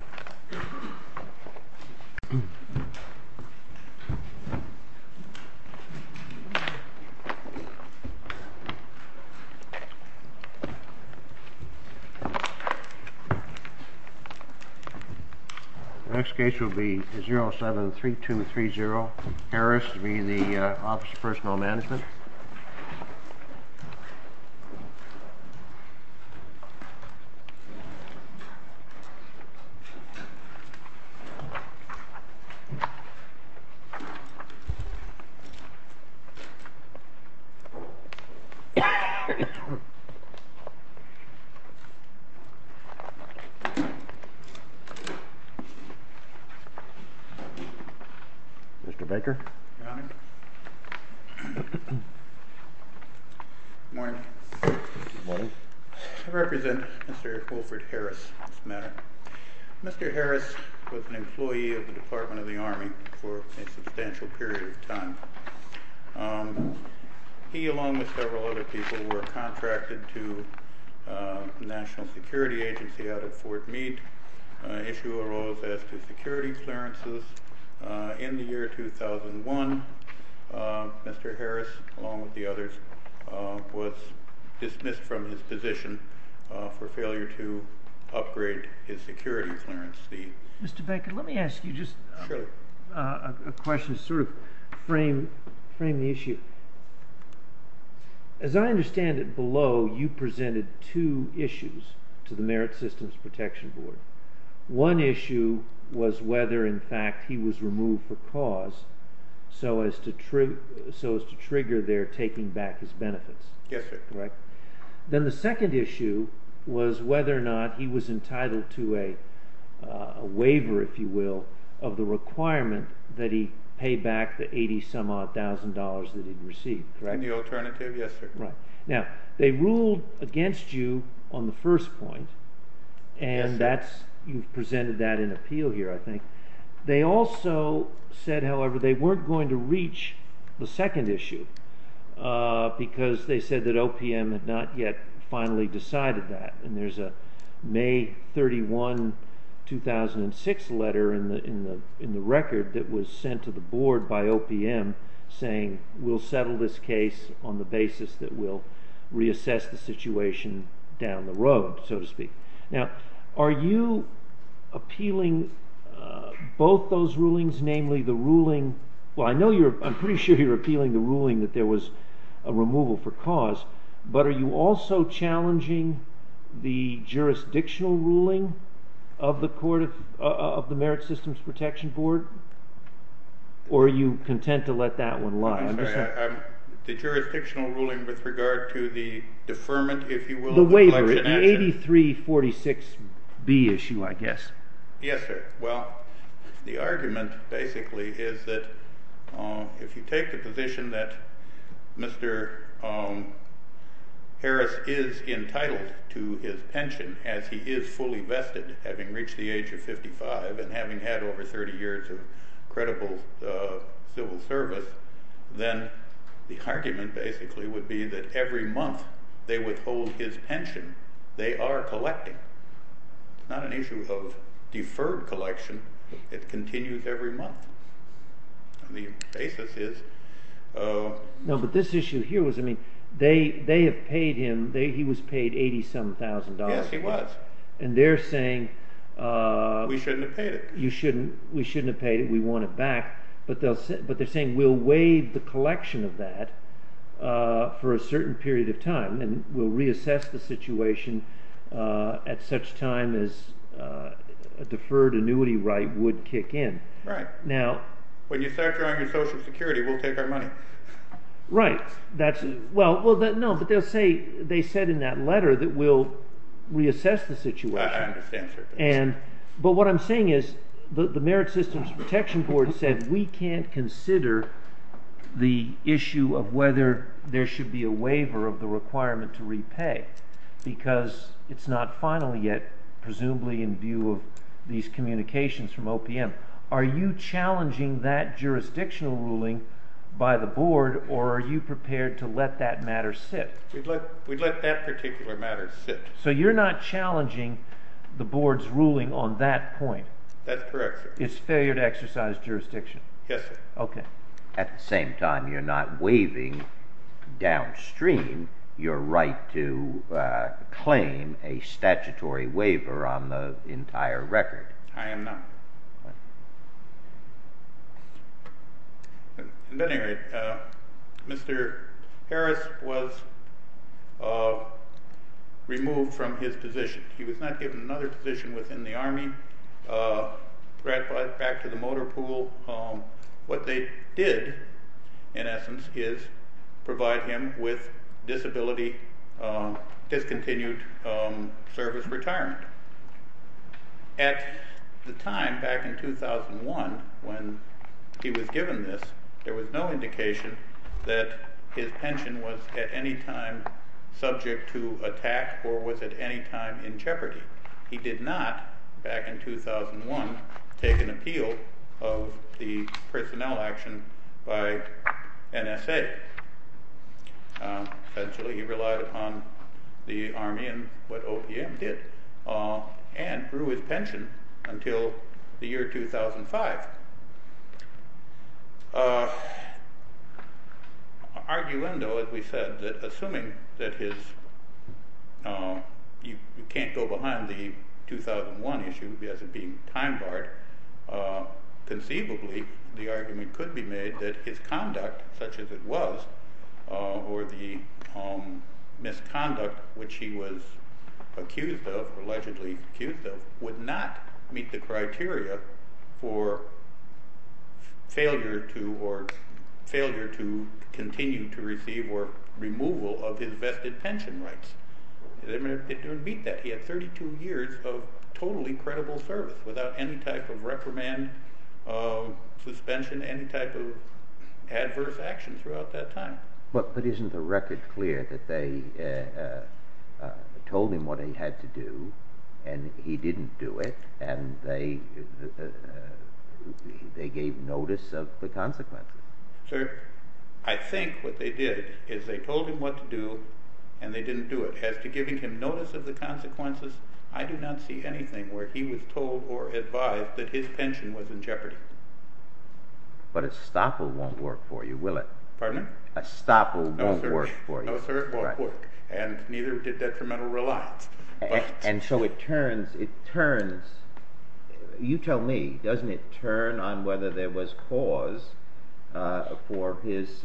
The next case will be 07-3230, Harris will be in the Office of Personnel Management. Mr. Baker, Good morning, Good morning, I represent Mr. Wilfrid Harris on this matter. Mr. Harris was an employee of the Department of the Army for a substantial period of time. He, along with several other people, were contracted to the National Security Agency out at Fort Meade. An issue arose as to security clearances. In the year 2001, Mr. Harris, along with the others, was dismissed from his position for failure to upgrade his security clearance fee. Mr. Baker, let me ask you just a question to sort of frame the issue. As I understand it below, you presented two issues to the Merit Systems Protection Board. One issue was whether, in fact, he was removed for cause so as to trigger their taking back his benefits. Yes, sir. Then the second issue was whether or not he was entitled to a waiver, if you will, of the requirement that he pay back the $80,000 that he received. In the alternative, yes, sir. Now, they ruled against you on the first point. Yes, sir. And you presented that in appeal here, I think. They also said, however, they weren't going to reach the second issue because they said that OPM had not yet finally decided that. And there's a May 31, 2006 letter in the record that was sent to the Board by OPM saying we'll settle this case on the basis that we'll reassess the situation down the road, so to speak. Now, are you appealing both those rulings, namely the ruling – well, I know you're – I'm pretty sure you're appealing the ruling that there was a removal for cause. But are you also challenging the jurisdictional ruling of the Court of – of the Merit Systems Protection Board? Or are you content to let that one lie? I'm sorry. The jurisdictional ruling with regard to the deferment, if you will – The waiver, the 8346B issue, I guess. Yes, sir. Well, the argument, basically, is that if you take the position that Mr. Harris is entitled to his pension as he is fully vested, having reached the age of 55 and having had over 30 years of credible civil service, then the argument, basically, would be that every month they withhold his pension they are collecting. It's not an issue of deferred collection. It continues every month. The basis is – No, but this issue here was – I mean, they have paid him – he was paid $87,000. Yes, he was. And they're saying – We shouldn't have paid it. You shouldn't – we shouldn't have paid it. We want it back. But they're saying we'll waive the collection of that for a certain period of time and we'll reassess the situation at such time as a deferred annuity right would kick in. Right. Now – When you start drawing your Social Security, we'll take our money. Right. That's – well, no, but they'll say – they said in that letter that we'll reassess the situation. I understand, sir. But what I'm saying is the Merit Systems Protection Board said we can't consider the issue of whether there should be a waiver of the requirement to repay because it's not final yet, presumably in view of these communications from OPM. Are you challenging that jurisdictional ruling by the board or are you prepared to let that matter sit? We'd let that particular matter sit. So you're not challenging the board's ruling on that point? That's correct, sir. It's failure to exercise jurisdiction? Yes, sir. Okay. At the same time, you're not waiving downstream your right to claim a statutory waiver on the entire record. I am not. At any rate, Mr. Harris was removed from his position. He was not given another position within the Army, brought back to the motor pool. What they did, in essence, is provide him with disability discontinued service retirement. At the time, back in 2001, when he was given this, there was no indication that his pension was at any time subject to attack or was at any time in jeopardy. He did not, back in 2001, take an appeal of the personnel action by NSA. Essentially, he relied upon the Army and what OPM did and grew his pension until the year 2005. Arguendo, as we said, that assuming that his – you can't go behind the 2001 issue as it being time barred. Conceivably, the argument could be made that his conduct, such as it was, or the misconduct which he was accused of, allegedly accused of, would not meet the criteria for failure to continue to receive or removal of his vested pension rights. It didn't meet that. He had 32 years of totally credible service without any type of reprimand, suspension, any type of adverse action throughout that time. But isn't the record clear that they told him what he had to do, and he didn't do it, and they gave notice of the consequences? Sir, I think what they did is they told him what to do, and they didn't do it. As to giving him notice of the consequences, I do not see anything where he was told or advised that his pension was in jeopardy. But a stopper won't work for you, will it? Pardon me? A stopper won't work for you. No, sir, it won't work, and neither did detrimental reliance. And so it turns – you tell me, doesn't it turn on whether there was cause for his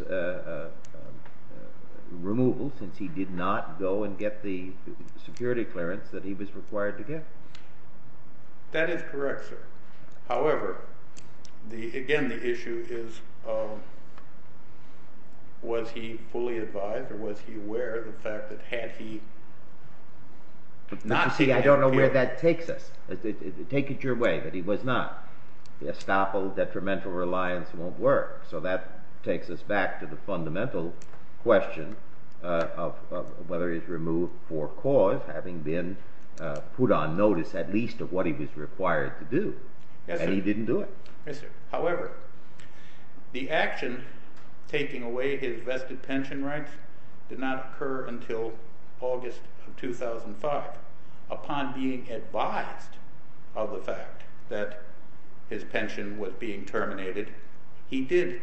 removal, since he did not go and get the security clearance that he was required to get? That is correct, sir. However, again, the issue is was he fully advised, or was he aware of the fact that had he not seen – You see, I don't know where that takes us. Take it your way that he was not. A stopper, detrimental reliance won't work. So that takes us back to the fundamental question of whether he was removed for cause, having been put on notice at least of what he was required to do. Yes, sir. And he didn't do it. Yes, sir. He did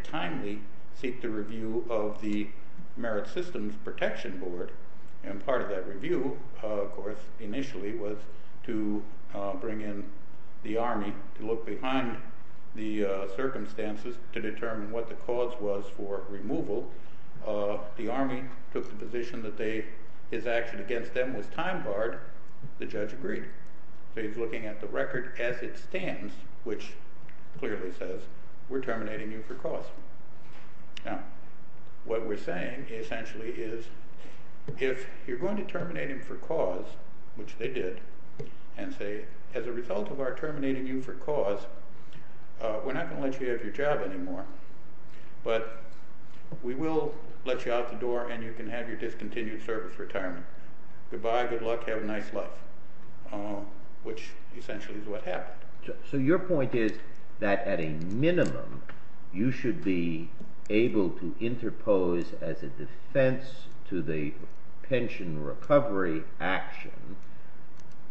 timely seek the review of the Merit Systems Protection Board. And part of that review, of course, initially was to bring in the Army to look behind the circumstances to determine what the cause was for removal. The Army took the position that his action against them was time-barred. The judge agreed. So he's looking at the record as it stands, which clearly says we're terminating you for cause. Now, what we're saying essentially is if you're going to terminate him for cause, which they did, and say as a result of our terminating you for cause, we're not going to let you have your job anymore, but we will let you out the door and you can have your discontinued service retirement. Goodbye, good luck, have a nice life, which essentially is what happened. So your point is that at a minimum you should be able to interpose as a defense to the pension recovery action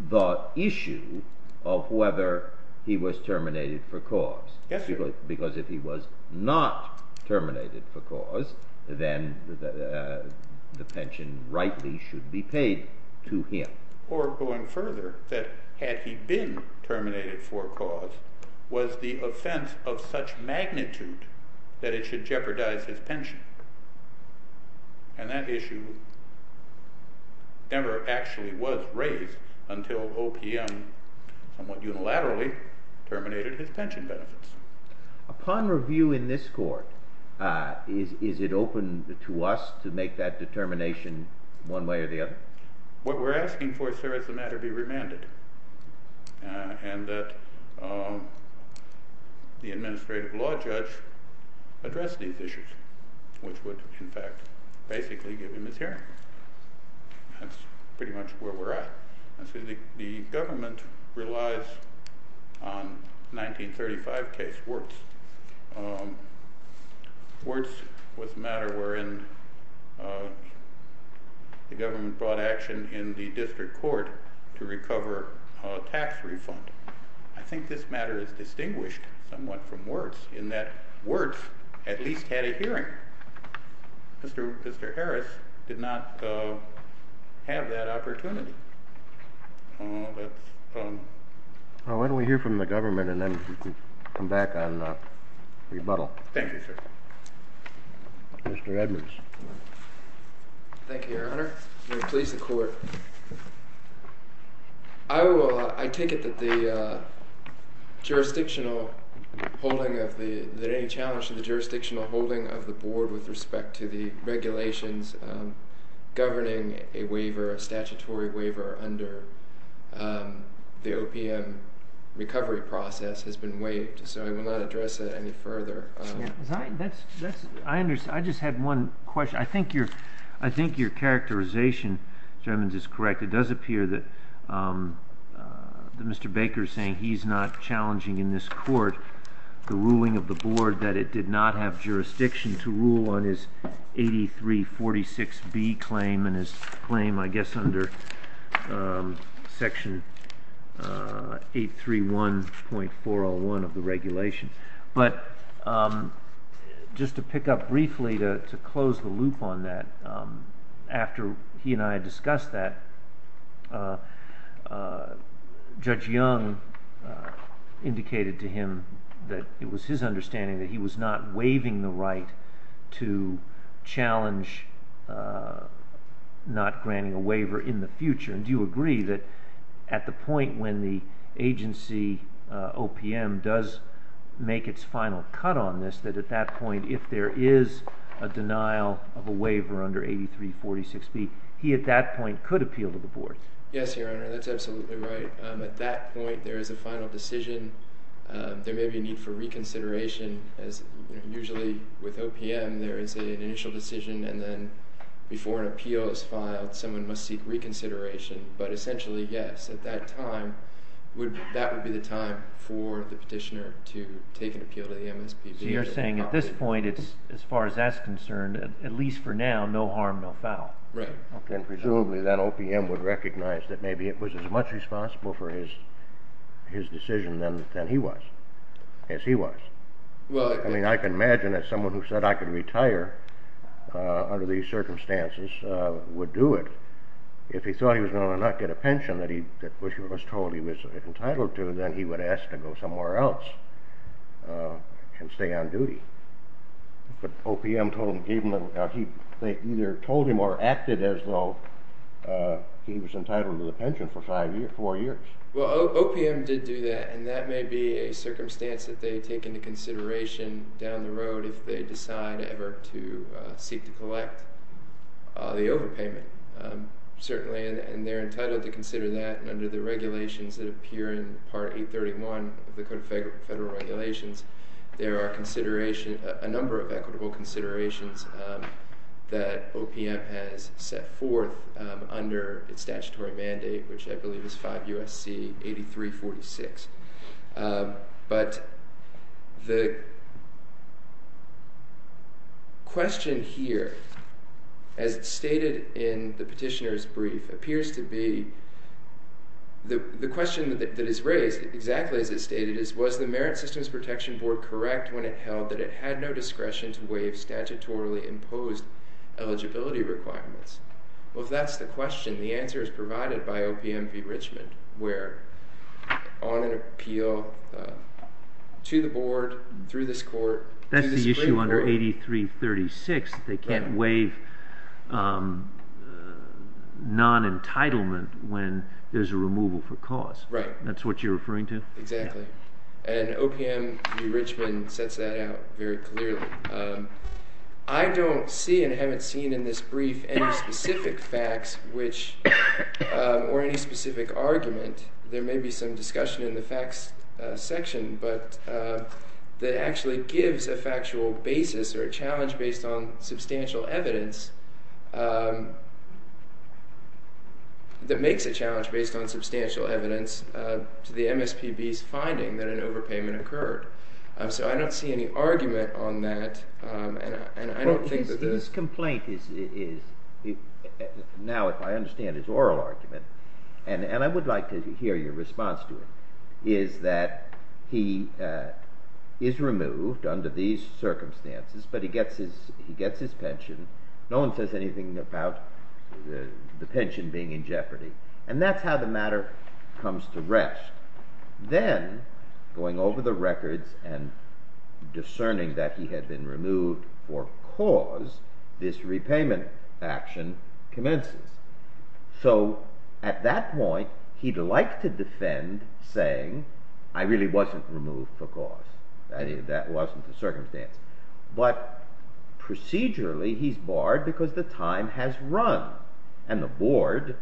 the issue of whether he was terminated for cause. Yes, sir. Because if he was not terminated for cause, then the pension rightly should be paid to him. Or going further, that had he been terminated for cause, was the offense of such magnitude that it should jeopardize his pension. And that issue never actually was raised until OPM somewhat unilaterally terminated his pension benefits. Upon review in this court, is it open to us to make that determination one way or the other? What we're asking for, sir, is the matter be remanded and that the administrative law judge address these issues. Which would, in fact, basically give him his hearing. That's pretty much where we're at. The government relies on 1935 case Wirtz. Wirtz was a matter wherein the government brought action in the district court to recover a tax refund. I think this matter is distinguished somewhat from Wirtz in that Wirtz at least had a hearing. Mr. Harris did not have that opportunity. Why don't we hear from the government and then come back on rebuttal. Thank you, sir. Mr. Edwards. May it please the court. I take it that any challenge to the jurisdictional holding of the board with respect to the regulations governing a statutory waiver under the OPM recovery process has been waived. So I will not address that any further. I just had one question. I think your characterization, gentlemen, is correct. It does appear that Mr. Baker is saying he's not challenging in this court the ruling of the board that it did not have jurisdiction to rule on his 8346B claim and his claim, I guess, under Section 831.401 of the regulation. But just to pick up briefly to close the loop on that, after he and I discussed that, Judge Young indicated to him that it was his understanding that he was not waiving the right to challenge not granting a waiver in the future. And do you agree that at the point when the agency OPM does make its final cut on this, that at that point, if there is a denial of a waiver under 8346B, he at that point could appeal to the board? Yes, Your Honor, that's absolutely right. At that point, there is a final decision. There may be a need for reconsideration. Usually with OPM, there is an initial decision. And then before an appeal is filed, someone must seek reconsideration. But essentially, yes, at that time, that would be the time for the petitioner to take an appeal to the MSPB. So you're saying at this point, as far as that's concerned, at least for now, no harm, no foul. Right. And presumably that OPM would recognize that maybe it was as much responsible for his decision than he was, as he was. I mean, I can imagine that someone who said, I can retire under these circumstances would do it. If he thought he was going to not get a pension that he was told he was entitled to, then he would ask to go somewhere else and stay on duty. But OPM told him, gave him, they either told him or acted as though he was entitled to the pension for five years, four years. Well, OPM did do that, and that may be a circumstance that they take into consideration down the road if they decide ever to seek to collect the overpayment, certainly. And they're entitled to consider that under the regulations that appear in Part 831 of the Code of Federal Regulations. There are a number of equitable considerations that OPM has set forth under its statutory mandate, which I believe is 5 U.S.C. 8346. But the question here, as stated in the petitioner's brief, appears to be, the question that is raised exactly as it's stated is, was the Merit Systems Protection Board correct when it held that it had no discretion to waive statutory imposed eligibility requirements? Well, if that's the question, the answer is provided by OPM v. Richmond, where on an appeal to the board, through this court, through the Supreme Court. That's the issue under 8336. They can't waive non-entitlement when there's a removal for cause. Right. That's what you're referring to? Exactly. And OPM v. Richmond sets that out very clearly. I don't see and haven't seen in this brief any specific facts or any specific argument. There may be some discussion in the facts section, but that actually gives a factual basis or a challenge based on substantial evidence that makes a challenge based on substantial evidence to the MSPB's finding that an overpayment occurred. So I don't see any argument on that. His complaint is, now if I understand his oral argument, and I would like to hear your response to it, is that he is removed under these circumstances, but he gets his pension. No one says anything about the pension being in jeopardy. And that's how the matter comes to rest. Then, going over the records and discerning that he had been removed for cause, this repayment action commences. So at that point, he'd like to defend saying, I really wasn't removed for cause. That wasn't the circumstance. But procedurally, he's barred because the time has run. And the board,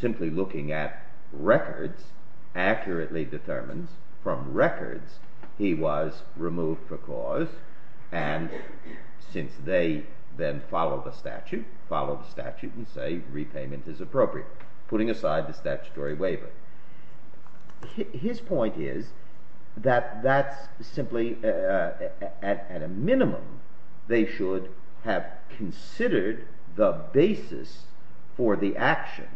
simply looking at records, accurately determines from records he was removed for cause. And since they then follow the statute, follow the statute and say repayment is appropriate, putting aside the statutory waiver. His point is that that's simply, at a minimum, they should have considered the basis for the action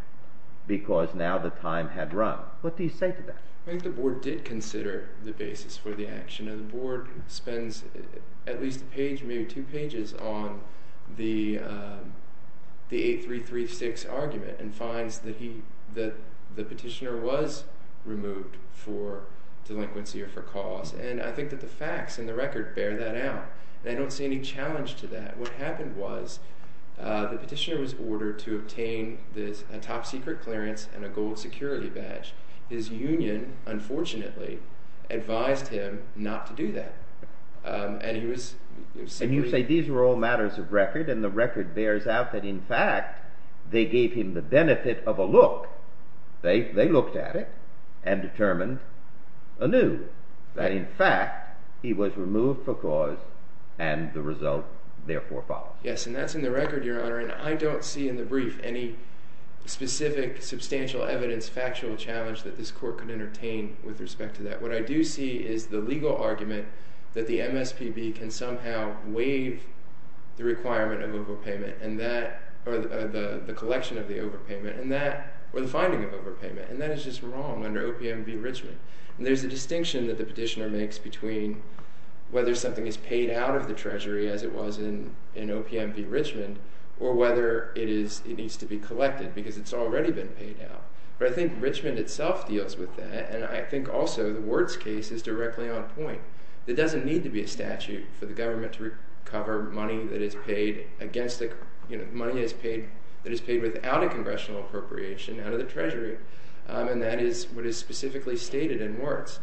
because now the time had run. What do you say to that? I think the board did consider the basis for the action. And the board spends at least a page, maybe two pages, on the 8336 argument and finds that the petitioner was removed for delinquency or for cause. And I think that the facts in the record bear that out. And I don't see any challenge to that. What happened was the petitioner was ordered to obtain a top-secret clearance and a gold security badge. His union, unfortunately, advised him not to do that. And you say these were all matters of record, and the record bears out that, in fact, they gave him the benefit of a look. They looked at it and determined anew that, in fact, he was removed for cause, and the result, therefore, follows. Yes, and that's in the record, Your Honor. And I don't see in the brief any specific substantial evidence, factual challenge, that this court could entertain with respect to that. What I do see is the legal argument that the MSPB can somehow waive the requirement of overpayment or the collection of the overpayment or the finding of overpayment. And that is just wrong under OPMB enrichment. And there's a distinction that the petitioner makes between whether something is paid out of the Treasury as it was in OPMB enrichment or whether it needs to be collected because it's already been paid out. But I think Richmond itself deals with that, and I think also the Wirtz case is directly on point. There doesn't need to be a statute for the government to recover money that is paid without a congressional appropriation out of the Treasury, and that is what is specifically stated in Wirtz.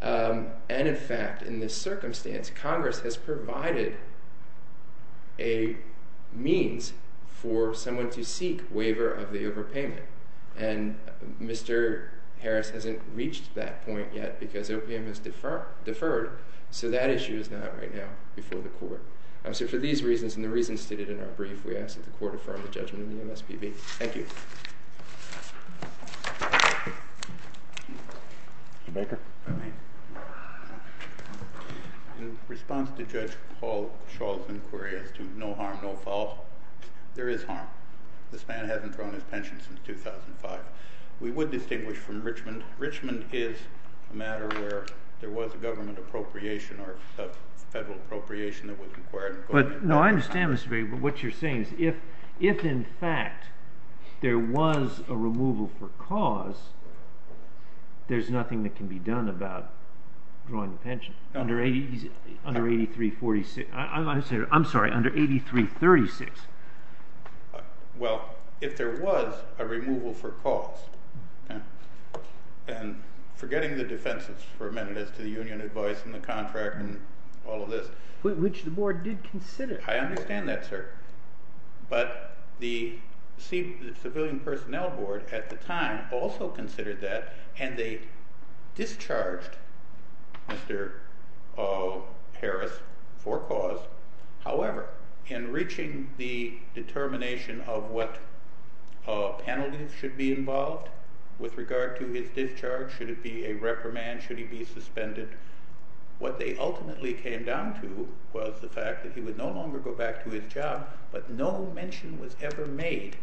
And in fact, in this circumstance, Congress has provided a means for someone to seek waiver of the overpayment. And Mr. Harris hasn't reached that point yet because OPM is deferred, so that issue is not right now before the court. So for these reasons and the reasons stated in our brief, we ask that the court affirm the judgment of the MSPB. Thank you. Mr. Baker? In response to Judge Hall-Schall's inquiry as to no harm, no fault, there is harm. This man hasn't thrown his pension since 2005. We would distinguish from Richmond. Richmond is a matter where there was a government appropriation or a federal appropriation that was required. No, I understand, Mr. Baker, what you're saying is if in fact there was a removal for cause, there's nothing that can be done about drawing the pension under 8346. I'm sorry, under 8336. Well, if there was a removal for cause, and forgetting the defenses for a minute as to the union advice and the contract and all of this... Which the board did consider. I understand that, sir. But the civilian personnel board at the time also considered that and they discharged Mr. Harris for cause. However, in reaching the determination of what penalties should be involved with regard to his discharge, should it be a reprimand, should he be suspended, what they ultimately came down to was the fact that he would no longer go back to his job, but no mention was ever made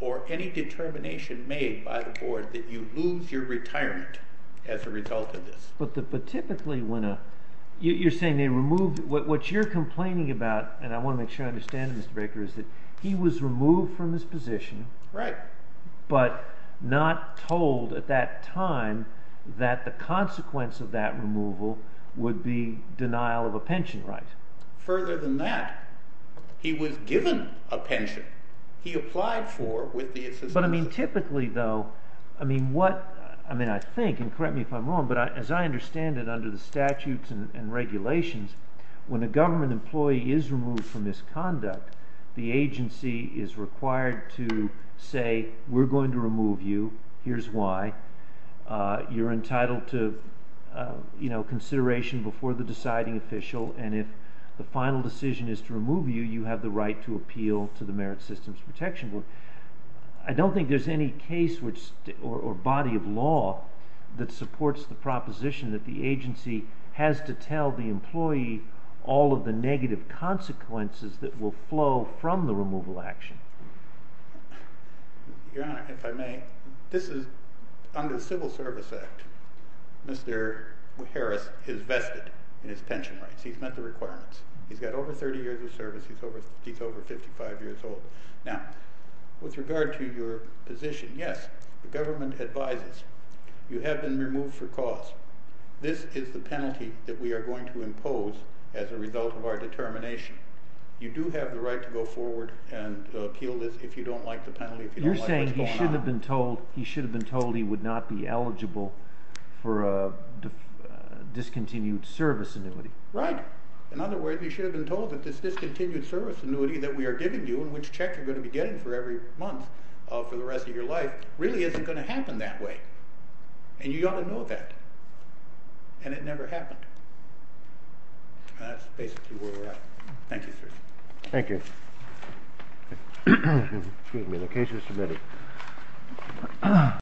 or any determination made by the board that you lose your retirement as a result of this. But typically when a... You're saying they removed... What you're complaining about, and I want to make sure I understand it, Mr. Baker, is that he was removed from his position, but not told at that time that the consequence of that removal would be denial of a pension right. Further than that, he was given a pension. He applied for it with the... But I mean, typically, though, I mean, what... I mean, I think, and correct me if I'm wrong, but as I understand it under the statutes and regulations, when a government employee is removed from his conduct, the agency is required to say, we're going to remove you, here's why. You're entitled to consideration before the deciding official, and if the final decision is to remove you, you have the right to appeal to the Merit Systems Protection Board. I don't think there's any case or body of law that supports the proposition that the agency has to tell the employee all of the negative consequences that will flow from the removal action. Your Honor, if I may, this is under the Civil Service Act. Mr. Harris is vested in his pension rights. He's met the requirements. He's got over 30 years of service. He's over 55 years old. Now, with regard to your position, yes, the government advises you have been removed for cause. This is the penalty that we are going to impose as a result of our determination. You do have the right to go forward and appeal this if you don't like the penalty, if you don't like what's going on. You're saying he should have been told he would not be eligible for a discontinued service annuity. Right. In other words, he should have been told that this discontinued service annuity that we are giving you and which check you're going to be getting for every month for the rest of your life really isn't going to happen that way. And you ought to know that. And it never happened. That's basically where we're at. Thank you, sir. Thank you. Excuse me. The case is submitted.